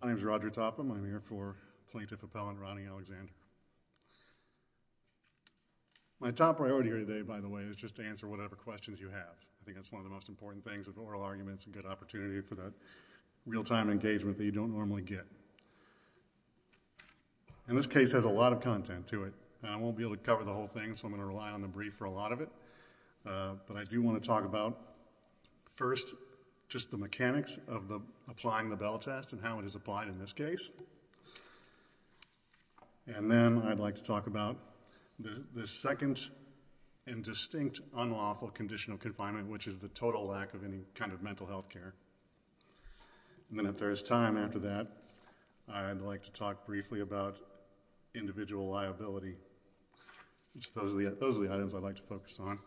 My name is Roger Topham. I'm here for Plaintiff Appellant Ronnie Alexander. My top priority here today, by the way, is just to answer whatever questions you have. I think that's one of the most important things of oral arguments and a good opportunity for that real-time engagement that you don't normally get. And this case has a lot of content to it. I won't be able to cover the whole thing, so I'm going to rely on the brief for a lot of it. But I do want to talk about, first, just the mechanics of applying the Bell Test and how it is applied in this case. And then I'd like to talk about the second and distinct unlawful condition of confinement, which is the total lack of any kind of mental health care. And then if there is time after that, I'd like to talk briefly about individual liability. Those are the items I'd like to focus on.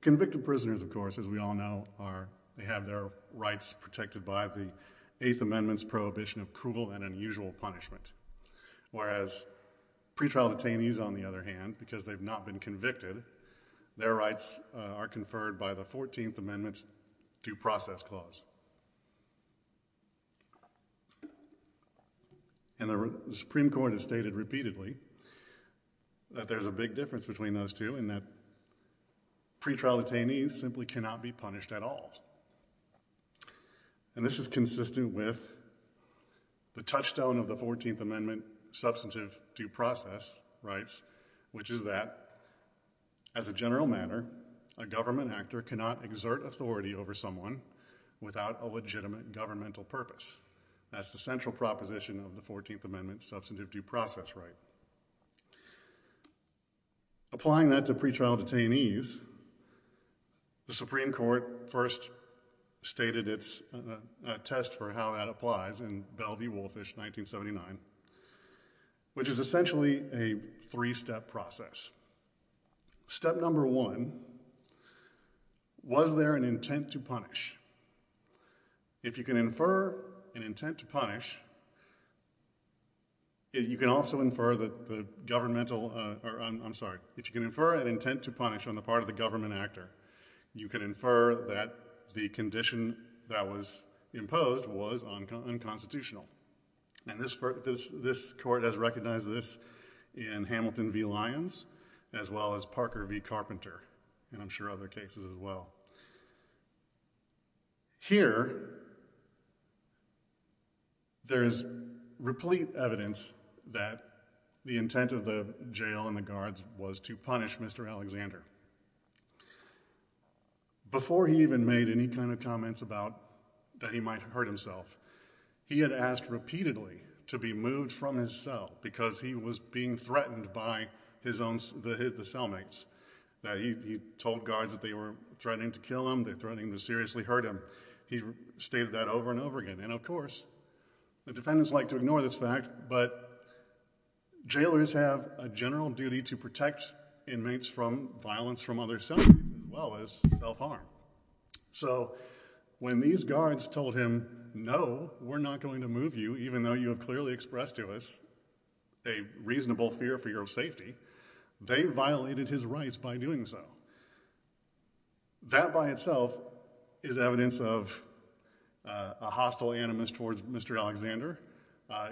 Convicted prisoners, of course, as we all know, they have their rights protected by the Eighth Amendment's prohibition of cruel and unusual punishment, whereas pretrial detainees, on the other hand, because they've not been convicted, their rights are conferred by the Fourteenth Amendment's due process clause. And the Supreme Court has stated repeatedly that there's a big difference between those two and that pretrial detainees simply cannot be punished at all. And this is consistent with the touchstone of the Fourteenth Amendment substantive due process rights, which is that as a general matter, a government actor cannot exert authority over someone without a legitimate governmental purpose. That's the central proposition of the Fourteenth Amendment substantive due process right. Applying that to pretrial detainees, the Supreme Court first stated its test for how that applies in Bell v. Woolfish, 1979, which is essentially a three-step process. Step number one, was there an intent to punish? If you can infer an intent to punish, you can also infer that the governmental, I'm sorry, if you can infer an intent to punish on the part of the government actor, you can infer that the condition that was imposed was unconstitutional. And this court has recognized this in Hamilton v. Lyons, as well as Parker v. Carpenter, and I'm sure other cases as well. Here, there's replete evidence that the intent of the jail and the guards was to punish Mr. Alexander. Before he even made any kind of comments about that he might hurt himself, he had asked repeatedly to be moved from his cell because he was being threatened by his own cellmates. He told guards that they were threatening to kill him, they were threatening to seriously hurt him. He stated that over and over again. And of course, the defendants like to ignore this fact, but jailers have a general duty to protect inmates from violence from other cellmates, as well as self-harm. So when these guards told him, no, we're not going to move you, even though you have clearly expressed to us a reasonable fear for your safety, they violated his rights by doing so. That by itself is evidence of a hostile animus towards Mr. Alexander.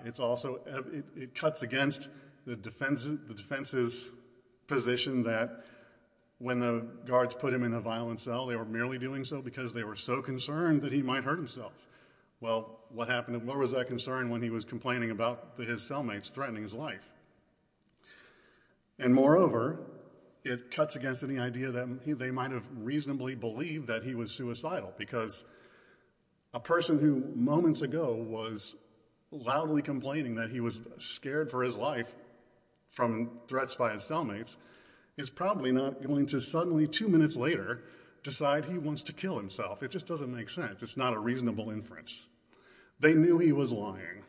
It cuts against the defense's position that when the guards put him in a violent cell, they were merely doing so because they were so concerned that he might hurt himself. Well, what was that concern when he was complaining about his cellmates threatening his life? And moreover, it cuts against any idea that they might have reasonably believed that he was suicidal, because a person who moments ago was loudly complaining that he was scared for his life from threats by his cellmates is probably not going to suddenly two minutes later decide he wants to kill himself. It just doesn't make sense. It's not a reasonable inference. They knew he was lying.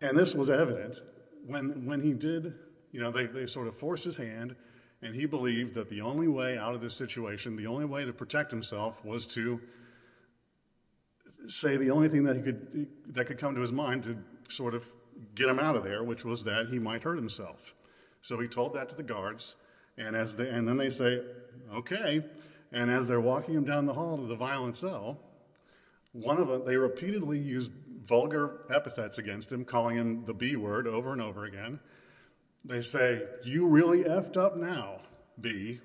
And this was evident when he did, you know, they sort of forced his hand, and he believed that the only way out of this situation, the only way to protect himself was to say the only thing that could come to his mind to sort of get him out of there, which was that he might hurt himself. So he told that to the guards, and then they say, okay. And as they're walking him down the hall to the violent cell, one of them, they repeatedly use vulgar epithets against him, calling him the B word over and over again. They say, you really effed up now, B.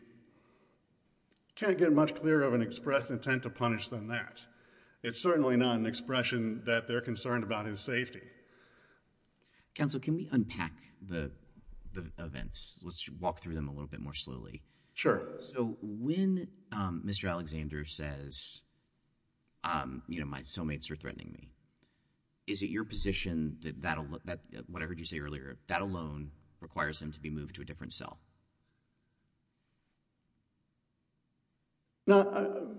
Can't get much clearer of an express intent to punish than that. It's certainly not an expression that they're concerned about his safety. Counsel, can we unpack the events? Let's walk through them a little bit more slowly. So when Mr. Alexander says, you know, my cellmates are threatening me, is it your position that that alone, what I heard you say earlier, that alone requires him to be moved to a different cell? No,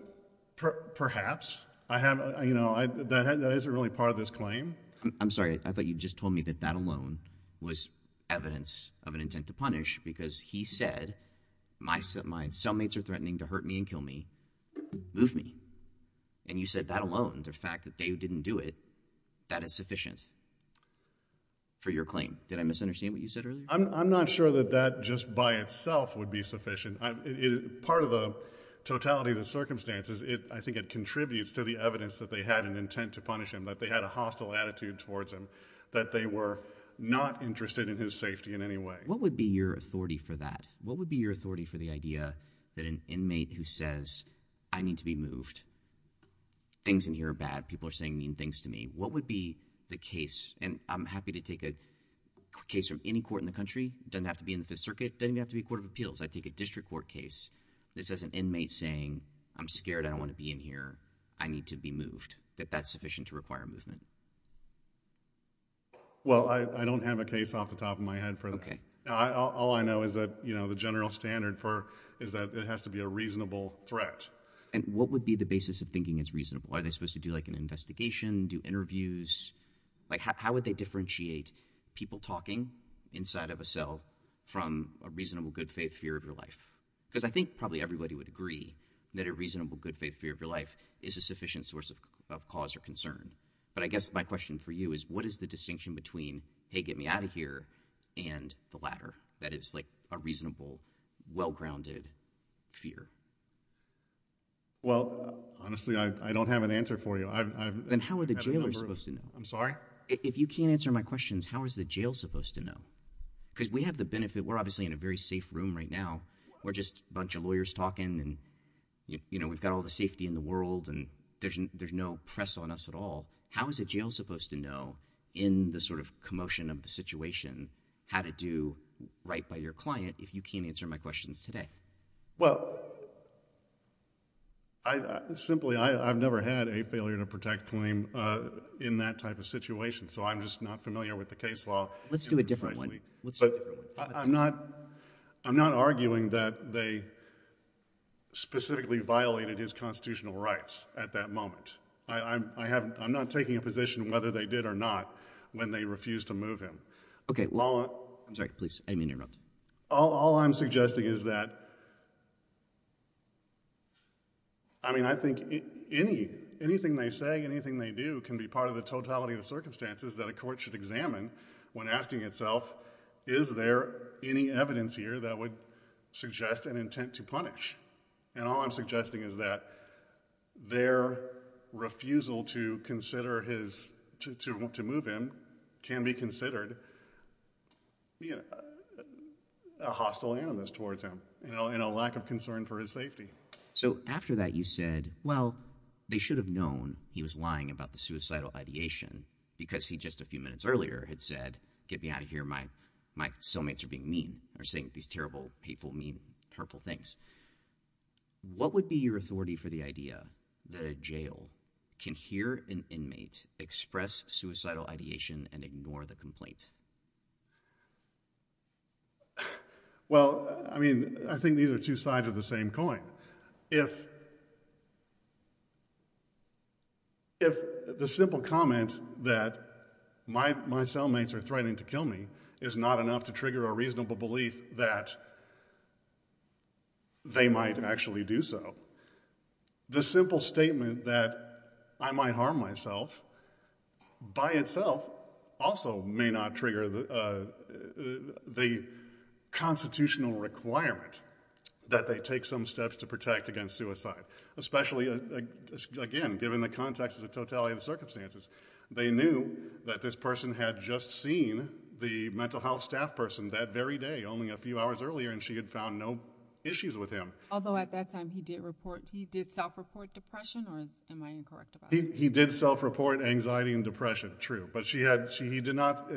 perhaps. I have, you know, that isn't really part of this claim. I'm sorry, I thought you just told me that that alone was evidence of an intent to punish because he said, my cellmates are threatening to hurt me and kill me, move me. And you said that alone, the fact that they didn't do it, that is sufficient for your claim. Did I misunderstand what you said earlier? I'm not sure that that just by itself would be sufficient. Part of the totality of the circumstances, I think it contributes to the evidence that they had an intent to punish him, that they had a hostile attitude towards him, that they were not interested in his safety in any way. What would be your authority for that? What would be your authority for the idea that an inmate who says, I need to be moved, things in here are bad, people are saying mean things to me, what would be the case, and I'm happy to take a case from any court in the country, doesn't have to be in the Fifth Circuit, doesn't even have to be a court of appeals, I take a district court case that says an inmate is saying, I'm scared, I don't want to be in here, I need to be moved, that that's sufficient to require a movement? Well, I don't have a case off the top of my head for that. Okay. All I know is that, you know, the general standard for, is that it has to be a reasonable threat. And what would be the basis of thinking it's reasonable? Are they supposed to do like an investigation, do interviews, like how would they differentiate people talking inside of a cell from a reasonable, good-faith fear of your life? Because I think probably everybody would agree that a reasonable, good-faith fear of your life is a sufficient source of cause or concern. But I guess my question for you is, what is the distinction between, hey, get me out of here, and the latter, that is like a reasonable, well-grounded fear? Well, honestly, I don't have an answer for you. Then how are the jailers supposed to know? I'm sorry? If you can't answer my questions, how is the jail supposed to know? Because we have the benefit, we're obviously in a very safe room right now, we're just a bunch of lawyers talking and, you know, we've got all the safety in the world and there's no press on us at all. How is a jail supposed to know in the sort of commotion of the situation how to do right by your client if you can't answer my questions today? Well, simply, I've never had a failure to protect claim in that type of situation, so I'm just not familiar with the case law. Let's do a different one. But I'm not arguing that they specifically violated his constitutional rights at that moment. I'm not taking a position whether they did or not when they refused to move him. Okay. I'm sorry, please, I didn't mean to interrupt. All I'm suggesting is that, I mean, I think anything they say, anything they do can be part of the totality of the circumstances that a court should examine when asking itself is there any evidence here that would suggest an intent to punish? And all I'm suggesting is that their refusal to consider his, to move him, can be considered a hostile animus towards him and a lack of concern for his safety. So after that you said, well, they should have known he was lying about the suicidal ideation because he just a few minutes earlier had said, get me out of here, my cellmates are being mean, are saying these terrible, hateful, mean, hurtful things. What would be your authority for the idea that a jail can hear an inmate express suicidal ideation and ignore the complaint? Well, I mean, I think these are two sides of the same coin. If the simple comment that my cellmates are threatening to kill me is not enough to trigger a reasonable belief that they might actually do so, the simple statement that I might harm myself by itself also may not trigger the constitutional requirement that they take some steps to protect against suicide. Especially, again, given the context of the totality of the circumstances, they knew that this person had just seen the mental health staff person that very day, only a few hours earlier, and she had found no issues with him. Although at that time he did self-report depression, or am I incorrect about that? He did self-report anxiety and depression, true. But he did not,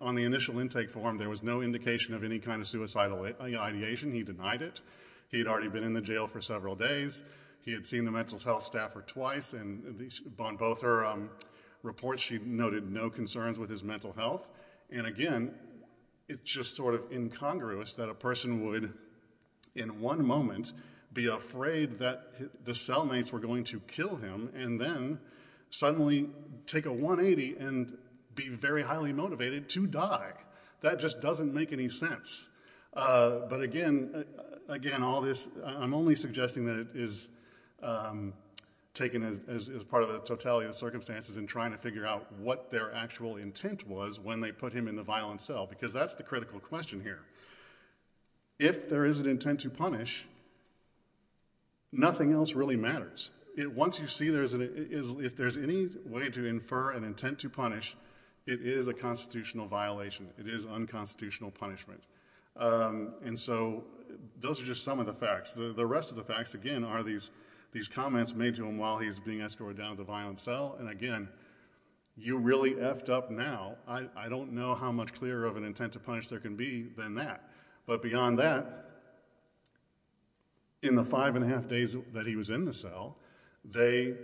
on the initial intake form, there was no indication of any kind of suicidal ideation, he denied it. He had already been in the jail for several days, he had seen the mental health staffer twice, and on both her reports she noted no concerns with his mental health. And again, it's just sort of incongruous that a person would, in one moment, be afraid that the cellmates were going to kill him, and then suddenly take a 180 and be very highly motivated to die. That just doesn't make any sense. But again, all this, I'm only suggesting that it is taken as part of the totality of circumstances and trying to figure out what their actual intent was when they put him in the violent cell, because that's the critical question here. If there is an intent to punish, nothing else really matters. Once you see there's an, if there's any way to infer an intent to punish, it is a constitutional punishment. And so, those are just some of the facts. The rest of the facts, again, are these comments made to him while he's being escorted down to the violent cell, and again, you really effed up now. I don't know how much clearer of an intent to punish there can be than that. But beyond that, in the five and a half days that he was in the cell, they,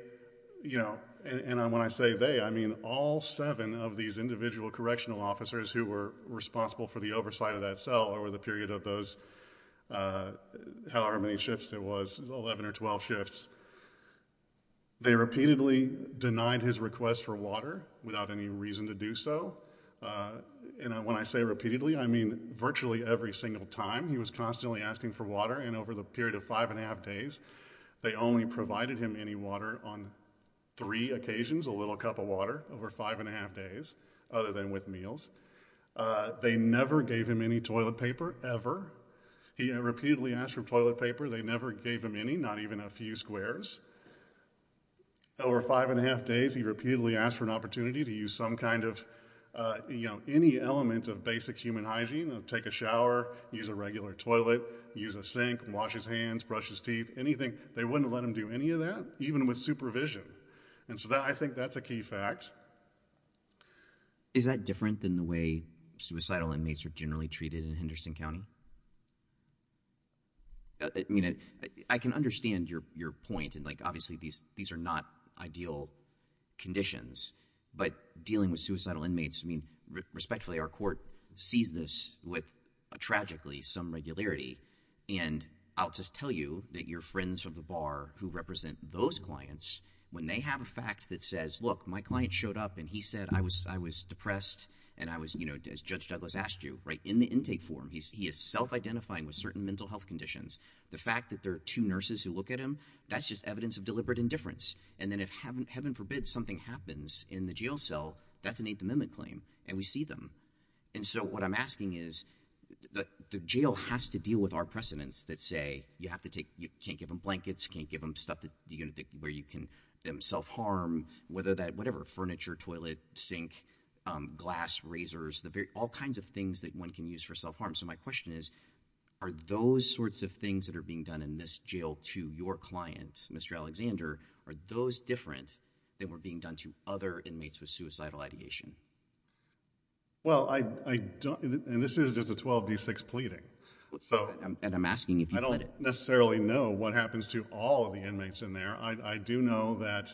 you know, and when I say they, I mean all seven of these individual correctional officers who were responsible for the oversight of that cell over the period of those, however many shifts there was, 11 or 12 shifts, they repeatedly denied his request for water without any reason to do so. And when I say repeatedly, I mean virtually every single time. He was constantly asking for water, and over the period of five and a half days, they only provided him any water on three occasions, a little cup of water over five and a half days, other than with meals. They never gave him any toilet paper, ever. He repeatedly asked for toilet paper. They never gave him any, not even a few squares. Over five and a half days, he repeatedly asked for an opportunity to use some kind of, you know, any element of basic human hygiene, take a shower, use a regular toilet, use a sink, wash his hands, brush his teeth, anything. They wouldn't let him do any of that, even with supervision. And so I think that's a key fact. Is that different than the way suicidal inmates are generally treated in Henderson County? I mean, I can understand your point, and like, obviously, these are not ideal conditions, but dealing with suicidal inmates, I mean, respectfully, our court sees this with, tragically, some regularity, and I'll just tell you that your friends from the bar who represent those clients, when they have a fact that says, look, my client showed up, and he said, I was depressed, and I was, you know, as Judge Douglas asked you, right, in the intake form, he is self-identifying with certain mental health conditions. The fact that there are two nurses who look at him, that's just evidence of deliberate indifference. And then if, heaven forbid, something happens in the jail cell, that's an Eighth Amendment claim, and we see them. And so what I'm asking is, the jail has to deal with our precedents that say, you have to take, you can't give them blankets, can't give them stuff where you can self-harm, whether that, whatever, furniture, toilet, sink, glass, razors, all kinds of things that one can use for self-harm. So my question is, are those sorts of things that are being done in this jail to your client, Mr. Alexander, are those different than were being done to other inmates with suicidal ideation? Well, I don't, and this is just a 12D6 pleading. And I'm asking if you put it. I don't necessarily know what happens to all of the inmates in there. I do know that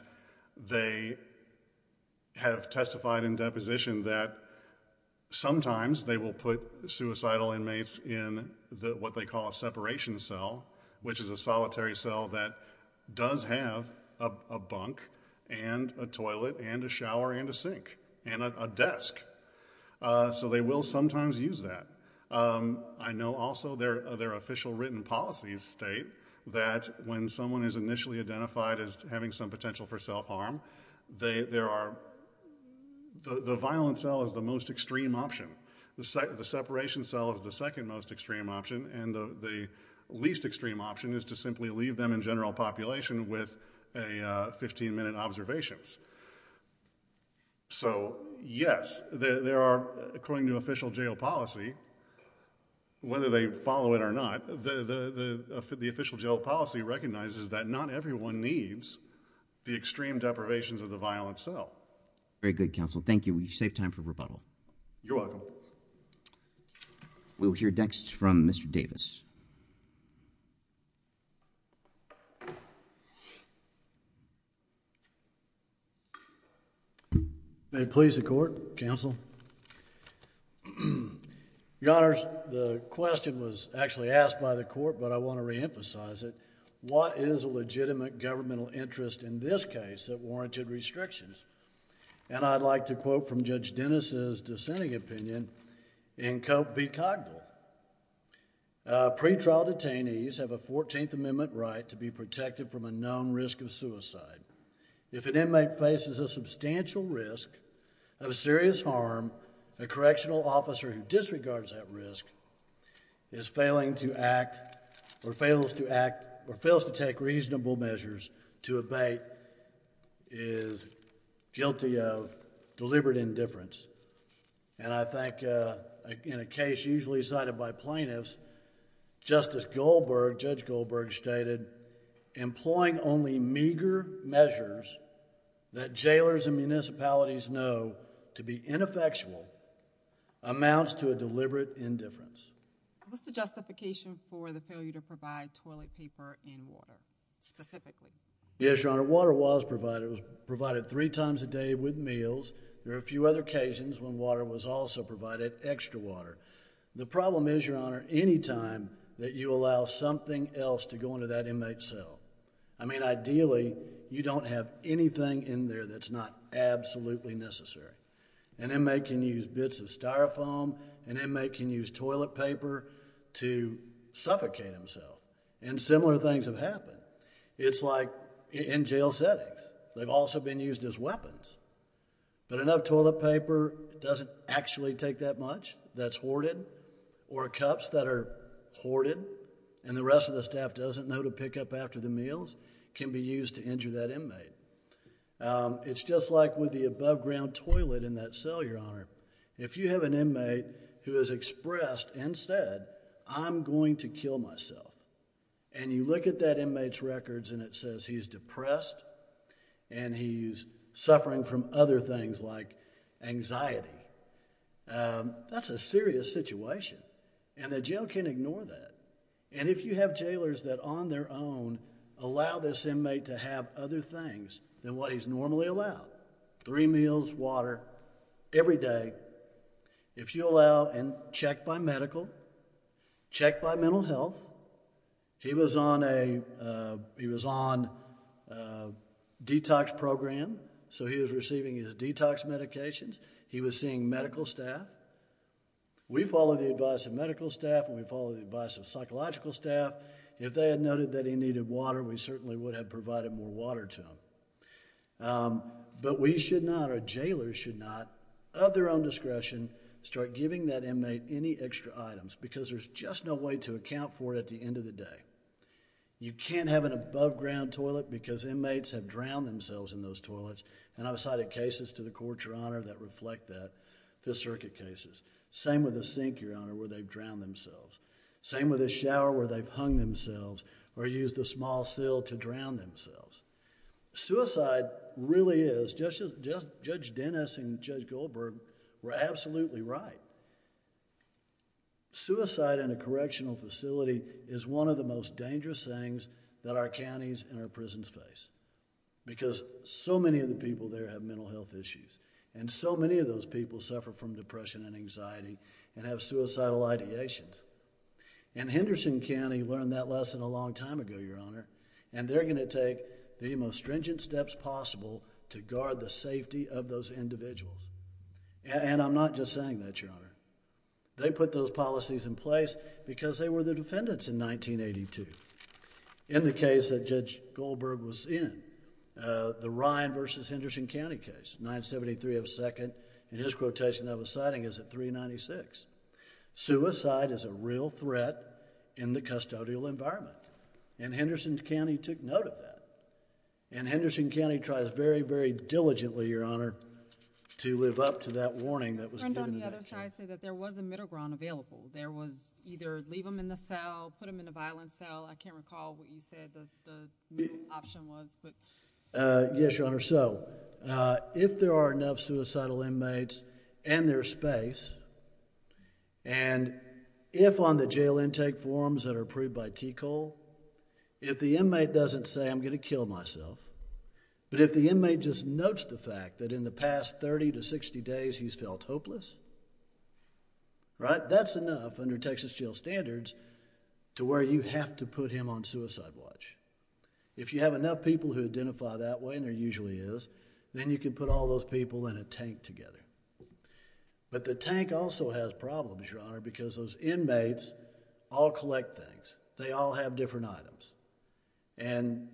they have testified in deposition that sometimes they will put suicidal inmates in what they call a separation cell, which is a solitary cell that does have a bunk and a toilet and a shower and a sink and a desk. So they will sometimes use that. I know also their official written policies state that when someone is initially identified as having some potential for self-harm, there are, the violent cell is the most extreme option. The separation cell is the second most extreme option. And the least extreme option is to simply leave them in general population with 15 minute observations. So, yes, there are, according to official jail policy, whether they follow it or not, the official jail policy recognizes that not everyone needs the extreme deprivations of the violent cell. Very good, counsel. Thank you. We saved time for rebuttal. You're welcome. We'll hear next from Mr. Davis. May it please the court, counsel. Your Honors, the question was actually asked by the court, but I want to reemphasize it. What is a legitimate governmental interest in this case that warranted restrictions? And I'd like to quote from Judge Dennis' dissenting opinion in Cope v. Cogdell. Pre-trial detainees have a 14th Amendment right to be protected from a known risk of abatement. If an inmate faces a substantial risk of serious harm, a correctional officer who disregards that risk is failing to act or fails to take reasonable measures to abate is guilty of deliberate indifference. And I think in a case usually cited by plaintiffs, Justice Goldberg, Judge Goldberg stated, employing only meager measures that jailers and municipalities know to be ineffectual amounts to a deliberate indifference. What's the justification for the failure to provide toilet paper and water, specifically? Yes, Your Honor, water was provided. It was provided three times a day with meals. There were a few other occasions when water was also provided, extra water. The problem is, Your Honor, anytime that you allow something else to go into that inmate's cell. I mean, ideally, you don't have anything in there that's not absolutely necessary. An inmate can use bits of styrofoam. An inmate can use toilet paper to suffocate himself. And similar things have happened. It's like in jail settings. They've also been used as weapons. But enough toilet paper doesn't actually take that much. That's hoarded. Or cups that are hoarded and the rest of the staff doesn't know to pick up after the meals can be used to injure that inmate. It's just like with the above ground toilet in that cell, Your Honor. If you have an inmate who has expressed and said, I'm going to kill myself, and you look at that inmate's records and it says he's depressed and he's suffering from other things like anxiety. That's a serious situation. And the jail can't ignore that. And if you have jailers that on their own allow this inmate to have other things than what he's normally allowed, three meals, water, every day. If you allow and check by medical, check by mental health. He was on a detox program, so he was receiving his detox medications. He was seeing medical staff. We follow the advice of medical staff and we follow the advice of psychological staff. If they had noted that he needed water, we certainly would have provided more water to him. But we should not or jailers should not, of their own discretion, start giving that inmate any extra items because there's just no way to account for it at the end of the day. You can't have an above ground toilet because inmates have drowned themselves in those toilets. And I've cited cases to the court, Your Honor, that reflect that, Fifth Circuit cases. Same with a sink, Your Honor, where they've drowned themselves. Same with a shower where they've hung themselves or used a small sill to drown themselves. Suicide really is, Judge Dennis and Judge Goldberg were absolutely right. Suicide in a correctional facility is one of the most dangerous things that our counties and our prisons face because so many of the people there have mental health issues and so many of those people suffer from depression and anxiety and have suicidal ideations. And Henderson County learned that lesson a long time ago, Your Honor, and they're going to take the most stringent steps possible to guard the safety of those individuals. And I'm not just saying that, Your Honor. They put those policies in place because they were the defendants in 1982 in the case that Judge Goldberg was in, the Ryan v. Henderson County case, 973 of 2nd, and his quotation that I was citing is at 396. Suicide is a real threat in the custodial environment, and Henderson County took note of that. And Henderson County tries very, very diligently, Your Honor, to live up to that warning that was given to them. On the other side, I say that there was a middle ground available. There was either leave them in the cell, put them in a violent cell. I can't recall what you said the middle option was. Yes, Your Honor. So if there are enough suicidal inmates and there's space, and if on the jail intake forms that are approved by TCOL, if the inmate doesn't say, I'm going to kill myself, but if the inmate just notes the fact that in the past 30 to 60 days he's felt hopeless, that's enough under Texas jail standards to where you have to put him on suicide watch. If you have enough people who identify that way, and there usually is, then you can put all those people in a tank together. But the tank also has problems, Your Honor, because those inmates all collect things. They all have different items. And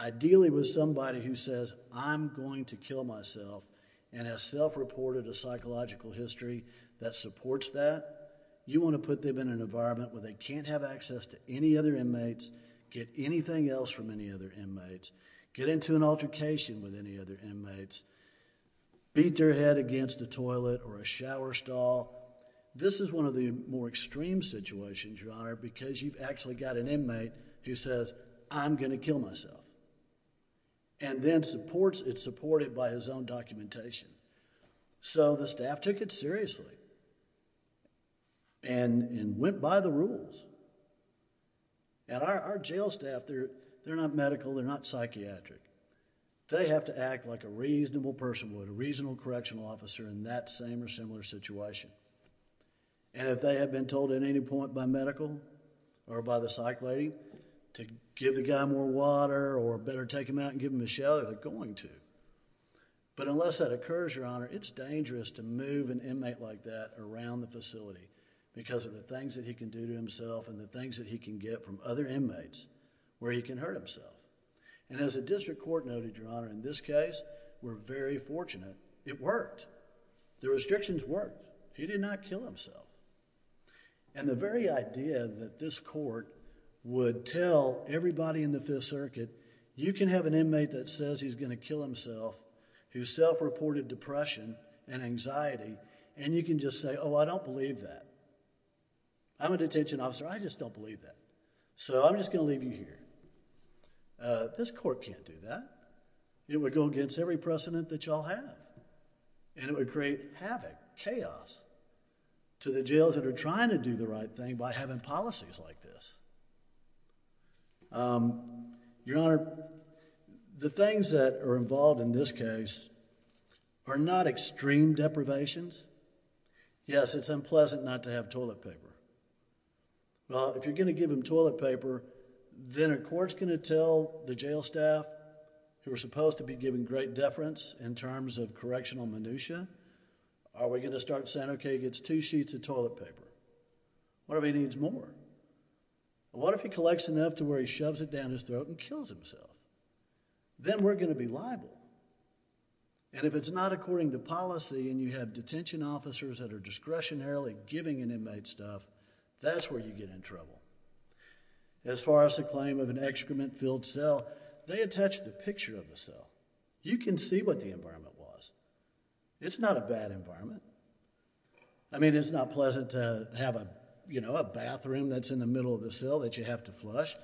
ideally with somebody who says, I'm going to kill myself, and has self-reported a psychological history that supports that, you want to put them in an environment where they can't have access to any other inmates, get anything else from any other inmates, get into an altercation with any other inmates, beat their head against the toilet or a shower stall. This is one of the more extreme situations, Your Honor, because you've actually got an inmate who says, I'm going to kill myself, and then it's supported by his own documentation. So the staff took it seriously and went by the rules. And our jail staff, they're not medical, they're not psychiatric. They have to act like a reasonable person would, a reasonable correctional officer in that same or similar situation. And if they had been told at any point by medical or by the psych lady to give the guy more water or better take him out and give him a shower, they're going to. But unless that occurs, Your Honor, it's dangerous to move an inmate like that around the facility because of the things that he can do to himself and the things that he can get from other inmates where he can hurt himself. And as the district court noted, Your Honor, in this case, we're very fortunate it worked. The restrictions worked. He did not kill himself. And the very idea that this court would tell everybody in the Fifth Circuit, you can have an inmate that says he's going to kill himself, who self-reported depression and anxiety, and you can just say, oh, I don't believe that. I'm a detention officer. I just don't believe that. So I'm just going to leave you here. This court can't do that. It would go against every precedent that you all have, and it would create havoc, chaos to the jails that are trying to do the right thing by having policies like this. Your Honor, the things that are involved in this case are not extreme deprivations. Yes, it's unpleasant not to have toilet paper. Well, if you're going to give them toilet paper, then are courts going to tell the jail staff, who are supposed to be given great deference in terms of correctional minutia, are we going to start saying, okay, he gets two sheets of toilet paper? What if he needs more? What if he collects enough to where he shoves it down his throat and kills himself? Then we're going to be liable. And if it's not according to policy and you have detention officers that are discretionarily giving an inmate stuff, that's where you get in trouble. As far as the claim of an excrement-filled cell, they attach the picture of the cell. You can see what the environment was. It's not a bad environment. I mean, it's not pleasant to have a bathroom that's in the middle of the cell that you have to flush,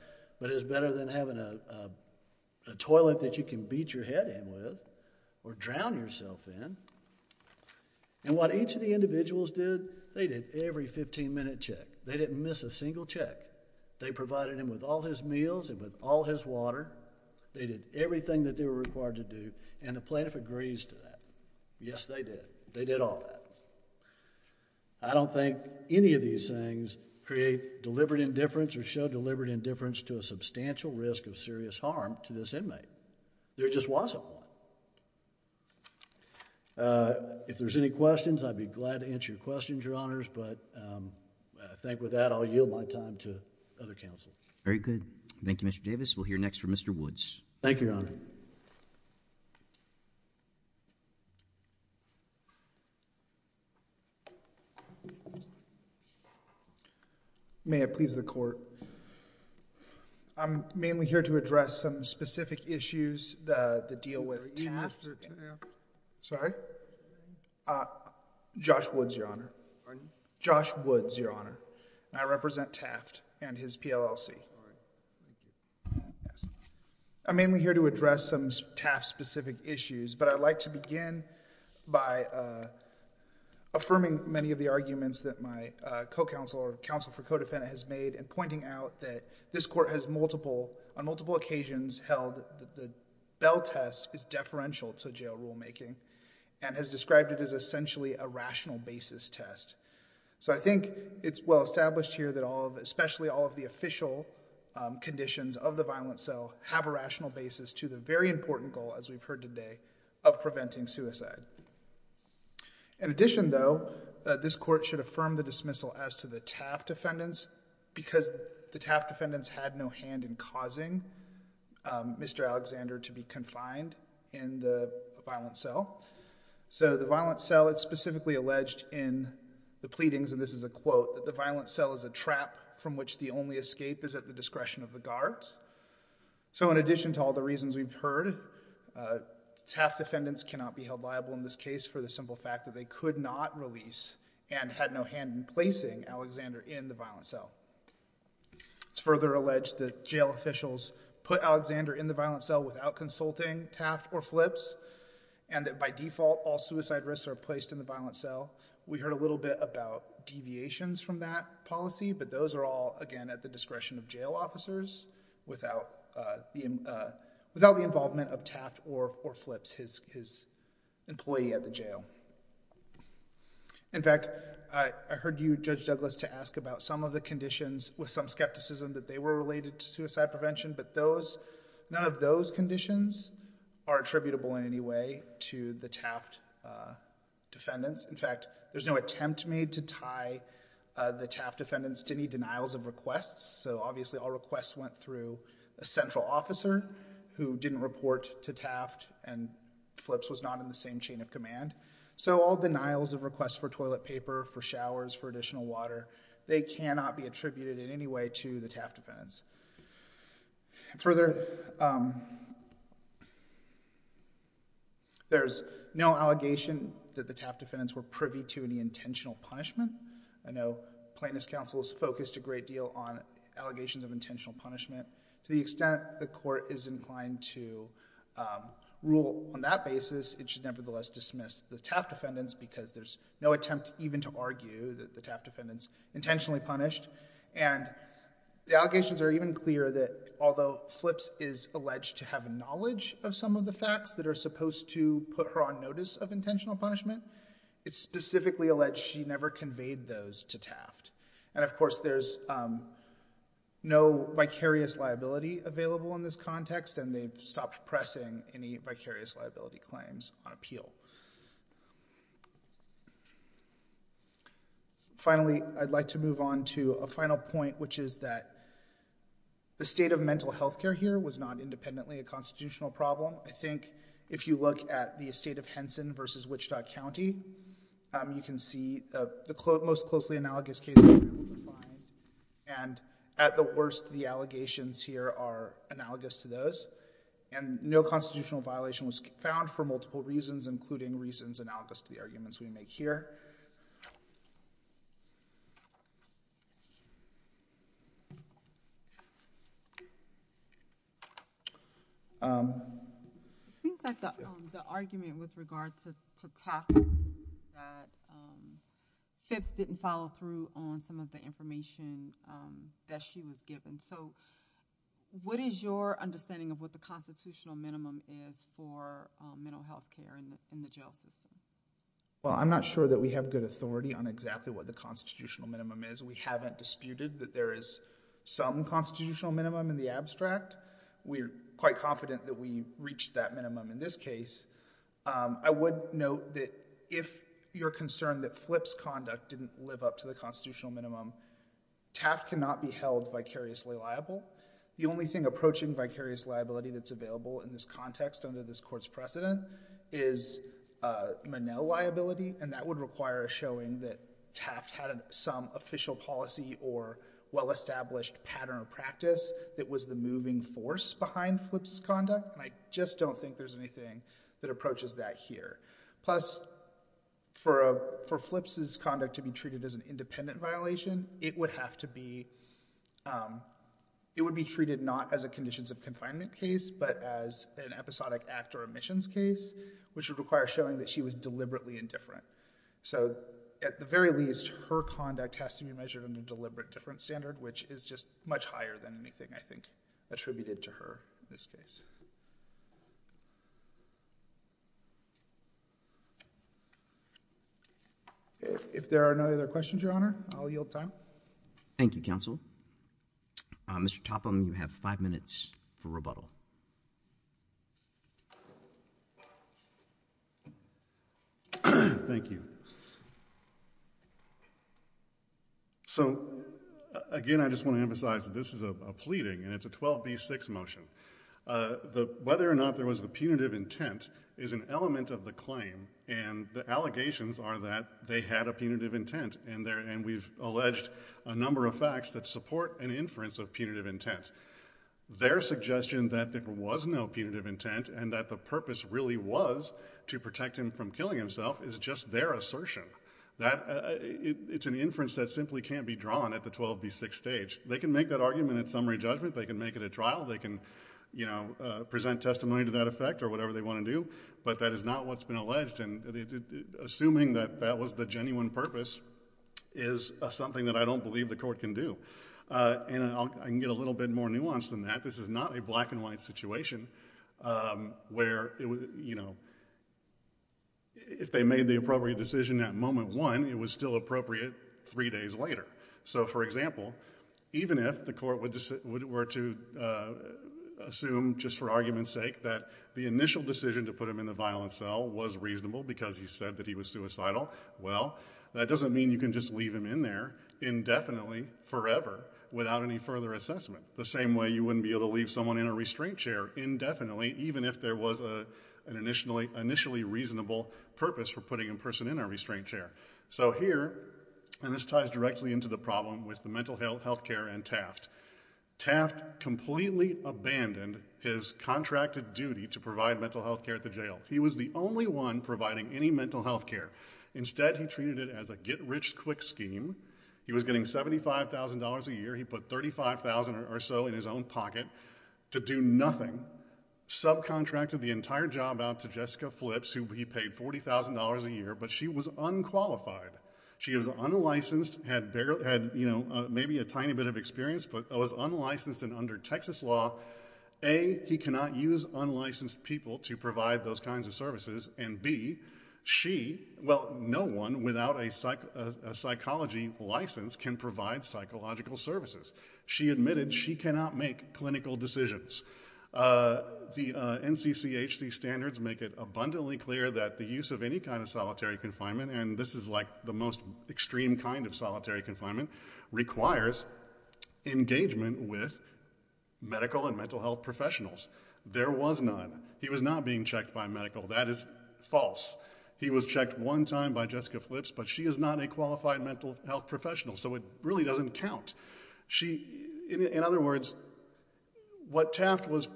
but it's better than having a toilet that you can beat your head in with or drown yourself in. And what each of the individuals did, they did every 15-minute check. They didn't miss a single check. They provided him with all his meals and with all his water. They did everything that they were required to do, and the plaintiff agrees to that. Yes, they did. They did all that. I don't think any of these things create deliberate indifference or show deliberate indifference to a substantial risk of serious harm to this inmate. There just wasn't one. If there's any questions, I'd be glad to answer your questions, Your Honors, but I think with that, I'll yield my time to other counsels. Very good. Thank you, Mr. Davis. We'll hear next from Mr. Woods. Thank you, Your Honor. May it please the Court. I'm mainly here to address some specific issues, the deal with Taft. Are you Mr. Taft? Sorry? Josh Woods, Your Honor. Josh Woods, Your Honor. I represent Taft and his PLLC. I'm mainly here to address some Taft-specific issues, but I'd like to begin by affirming many of the arguments that my co-counsel or counsel for co-defendant has made and pointing out that this Court has on multiple occasions held that the Bell test is deferential to jail rulemaking and has described it as essentially a rational basis test. So I think it's well established here that all of, especially all of the official conditions of the violent cell, have a rational basis to the very important goal, as we've heard today, of preventing suicide. In addition, though, this Court should affirm the dismissal as to the Taft defendants because the Taft defendants had no hand in causing Mr. Alexander to be confined in the violent cell. So the violent cell, it's specifically alleged in the pleadings, and this is a quote, that the violent cell is a trap from which the only escape is at the discretion of the guards. So in addition to all the reasons we've heard, Taft defendants cannot be held liable in this case for the simple fact that they could not release and had no hand in placing Alexander in the violent cell. It's further alleged that jail officials put Alexander in the violent cell without consulting Taft or Flips and that by default all suicide risks are placed in the violent cell. We heard a little bit about deviations from that policy, but those are all, again, at the discretion of jail officers without the involvement of Taft or Flips, his employee at the jail. In fact, I heard you, Judge Douglas, to ask about some of the conditions with some skepticism that they were related to suicide prevention, but none of those conditions are attributable in any way to the Taft defendants. In fact, there's no attempt made to tie the Taft defendants to any denials of requests, so obviously all requests went through a central officer who didn't report to Taft, and Flips was not in the same chain of command. So all denials of requests for toilet paper, for showers, for additional water, they cannot be attributed in any way to the Taft defendants. Further, there's no allegation that the Taft defendants were privy to any intentional punishment. I know Plaintiff's Counsel has focused a great deal on allegations of intentional punishment. To the extent the court is inclined to rule on that basis, it should nevertheless dismiss the Taft defendants because there's no attempt even to argue that the Taft defendants intentionally punished. And the allegations are even clearer that although Flips is alleged to have knowledge of some of the facts that are supposed to put her on notice of intentional punishment, it's specifically alleged she never conveyed those to Taft. And of course there's no vicarious liability available in this context, and they've stopped pressing any vicarious liability claims on appeal. Finally, I'd like to move on to a final point, which is that the state of mental health care here was not independently a constitutional problem. I think if you look at the estate of Henson v. Wichita County, you can see the most closely analogous case that we were able to find, and at the worst the allegations here are analogous to those, and no constitutional violation was found for multiple reasons, including reasons analogous to the arguments we make here. It seems like the argument with regard to Taft that Flips didn't follow through on some of the information that she was given. So what is your understanding of what the constitutional minimum is for mental health care in the jail system? Well, I'm not sure that we have good authority on exactly what the constitutional minimum is. We haven't disputed that there is some constitutional minimum in the abstract. We're quite confident that we reached that minimum in this case. I would note that if you're concerned that Flips' conduct didn't live up to the constitutional minimum, Taft cannot be held vicariously liable. The only thing approaching vicarious liability that's available in this context under this Court's precedent is Monell liability, and that would require showing that Taft had some official policy or well-established pattern of practice that was the moving force behind Flips' conduct, and I just don't think there's anything that approaches that here. Plus, for Flips' conduct to be treated as an independent violation, it would be treated not as a conditions of confinement case but as an episodic act or omissions case, which would require showing that she was deliberately indifferent. So at the very least, her conduct has to be measured under a deliberate difference standard, which is just much higher than anything, I think, attributed to her in this case. If there are no other questions, Your Honor, I'll yield time. Thank you, counsel. Mr. Topham, you have 5 minutes for rebuttal. Thank you. So, again, I just want to emphasize that this is a pleading, and it's a 12b-6 motion. Whether or not there was a punitive intent is an element of the claim, and the allegations are that they had a punitive intent, and we've alleged a number of facts that support an inference of punitive intent. Their suggestion that there was no punitive intent and that the purpose really was to protect him from killing himself is just their assertion. It's an inference that simply can't be drawn at the 12b-6 stage. They can make that argument at summary judgment, they can make it at trial, they can present testimony to that effect or whatever they want to do, but that is not what's been alleged, and assuming that that was the genuine purpose is something that I don't believe the court can do. And I can get a little bit more nuanced than that. In fact, this is not a black-and-white situation where if they made the appropriate decision at moment one, it was still appropriate three days later. So, for example, even if the court were to assume, just for argument's sake, that the initial decision to put him in the violent cell was reasonable because he said that he was suicidal, well, that doesn't mean you can just leave him in there indefinitely, forever, without any further assessment. The same way you wouldn't be able to leave someone in a restraint chair indefinitely, even if there was an initially reasonable purpose for putting a person in a restraint chair. So here, and this ties directly into the problem with the mental health care and Taft, Taft completely abandoned his contracted duty to provide mental health care at the jail. He was the only one providing any mental health care. Instead, he treated it as a get-rich-quick scheme. He was getting $75,000 a year. He put $35,000 or so in his own pocket to do nothing. Subcontracted the entire job out to Jessica Flips, who he paid $40,000 a year, but she was unqualified. She was unlicensed, had maybe a tiny bit of experience, but was unlicensed and under Texas law. A, he cannot use unlicensed people to provide those kinds of services, and B, she... Well, no one without a psychology license can provide psychological services. She admitted she cannot make clinical decisions. The NCCHC standards make it abundantly clear that the use of any kind of solitary confinement, and this is, like, the most extreme kind of solitary confinement, requires engagement with medical and mental health professionals. There was none. He was not being checked by a medical. That is false. He was checked one time by Jessica Flips, but she is not a qualified mental health professional, so it really doesn't count. In other words, what Taft was...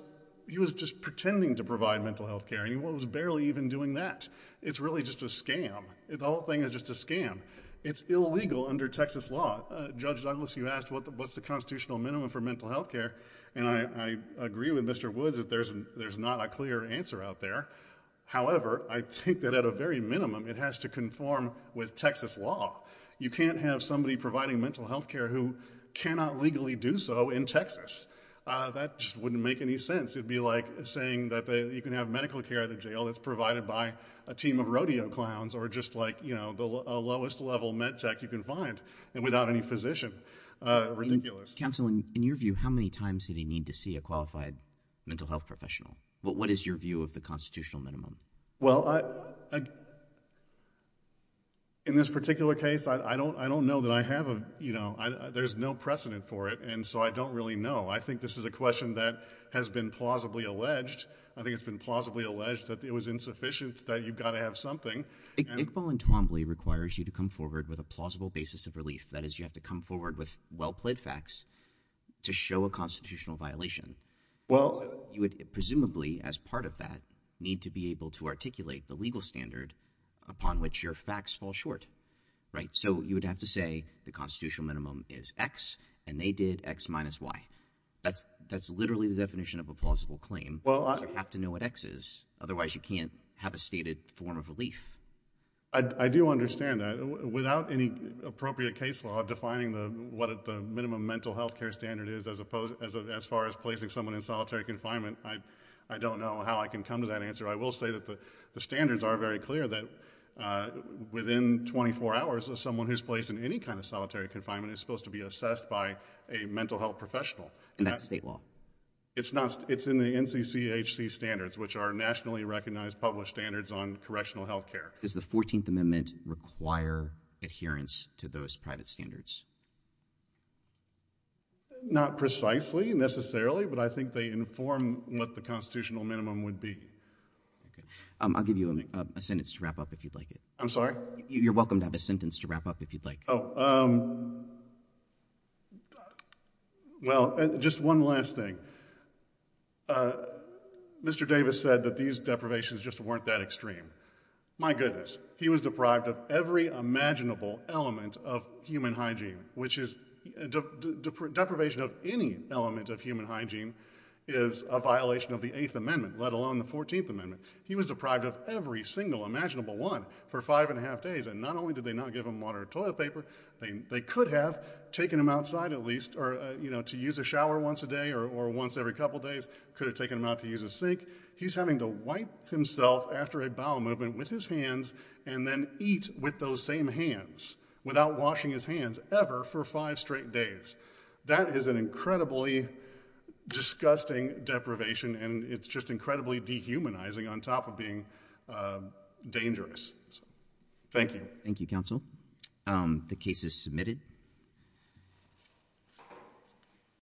He was just pretending to provide mental health care, and he was barely even doing that. It's really just a scam. The whole thing is just a scam. It's illegal under Texas law. Judge Douglas, you asked, what's the constitutional minimum for mental health care, and I agree with Mr. Woods that there's not a clear answer out there. However, I think that at a very minimum it has to conform with Texas law. You can't have somebody providing mental health care who cannot legally do so in Texas. That just wouldn't make any sense. It would be like saying that you can have medical care at a jail that's provided by a team of rodeo clowns or just the lowest level med tech you can find without any physician. Ridiculous. Counsel, in your view, how many times did he need to see a qualified mental health professional? What is your view of the constitutional minimum? In this particular case, I don't know that I have... There's no precedent for it, and so I don't really know. I think this is a question that has been plausibly alleged. I think it's been plausibly alleged that it was insufficient, that you've got to have something. Iqbal Entombly requires you to come forward with a plausible basis of relief. That is, you have to come forward with well-plaid facts to show a constitutional violation. You would presumably, as part of that, need to be able to articulate the legal standard upon which your facts fall short. So you would have to say the constitutional minimum is X and they did X minus Y. That's literally the definition of a plausible claim. You have to know what X is, otherwise you can't have a stated form of relief. I do understand that. Without any appropriate case law defining what the minimum mental health care standard is as far as placing someone in solitary confinement, I don't know how I can come to that answer. I will say that the standards are very clear that within 24 hours, someone who's placed in any kind of solitary confinement is supposed to be assessed by a mental health professional. And that's state law? It's in the NCCHC standards, which are nationally recognized published standards on correctional health care. Does the 14th Amendment require adherence to those private standards? Not precisely, necessarily, but I think they inform what the constitutional minimum would be. I'll give you a sentence to wrap up if you'd like. I'm sorry? You're welcome to have a sentence to wrap up if you'd like. Well, just one last thing. Mr. Davis said that these deprivations just weren't that extreme. My goodness, he was deprived of every imaginable element of human hygiene, which is deprivation of any element of human hygiene is a violation of the 8th Amendment, let alone the 14th Amendment. He was deprived of every single imaginable one for five and a half days. And not only did they not give him water or toilet paper, they could have taken him outside at least to use a shower once a day or once every couple days, could have taken him out to use a sink. He's having to wipe himself after a bowel movement with his hands and then eat with those same hands without washing his hands ever for five straight days. That is an incredibly disgusting deprivation and it's just incredibly dehumanizing on top of being dangerous. Thank you. Thank you, counsel. The case is submitted.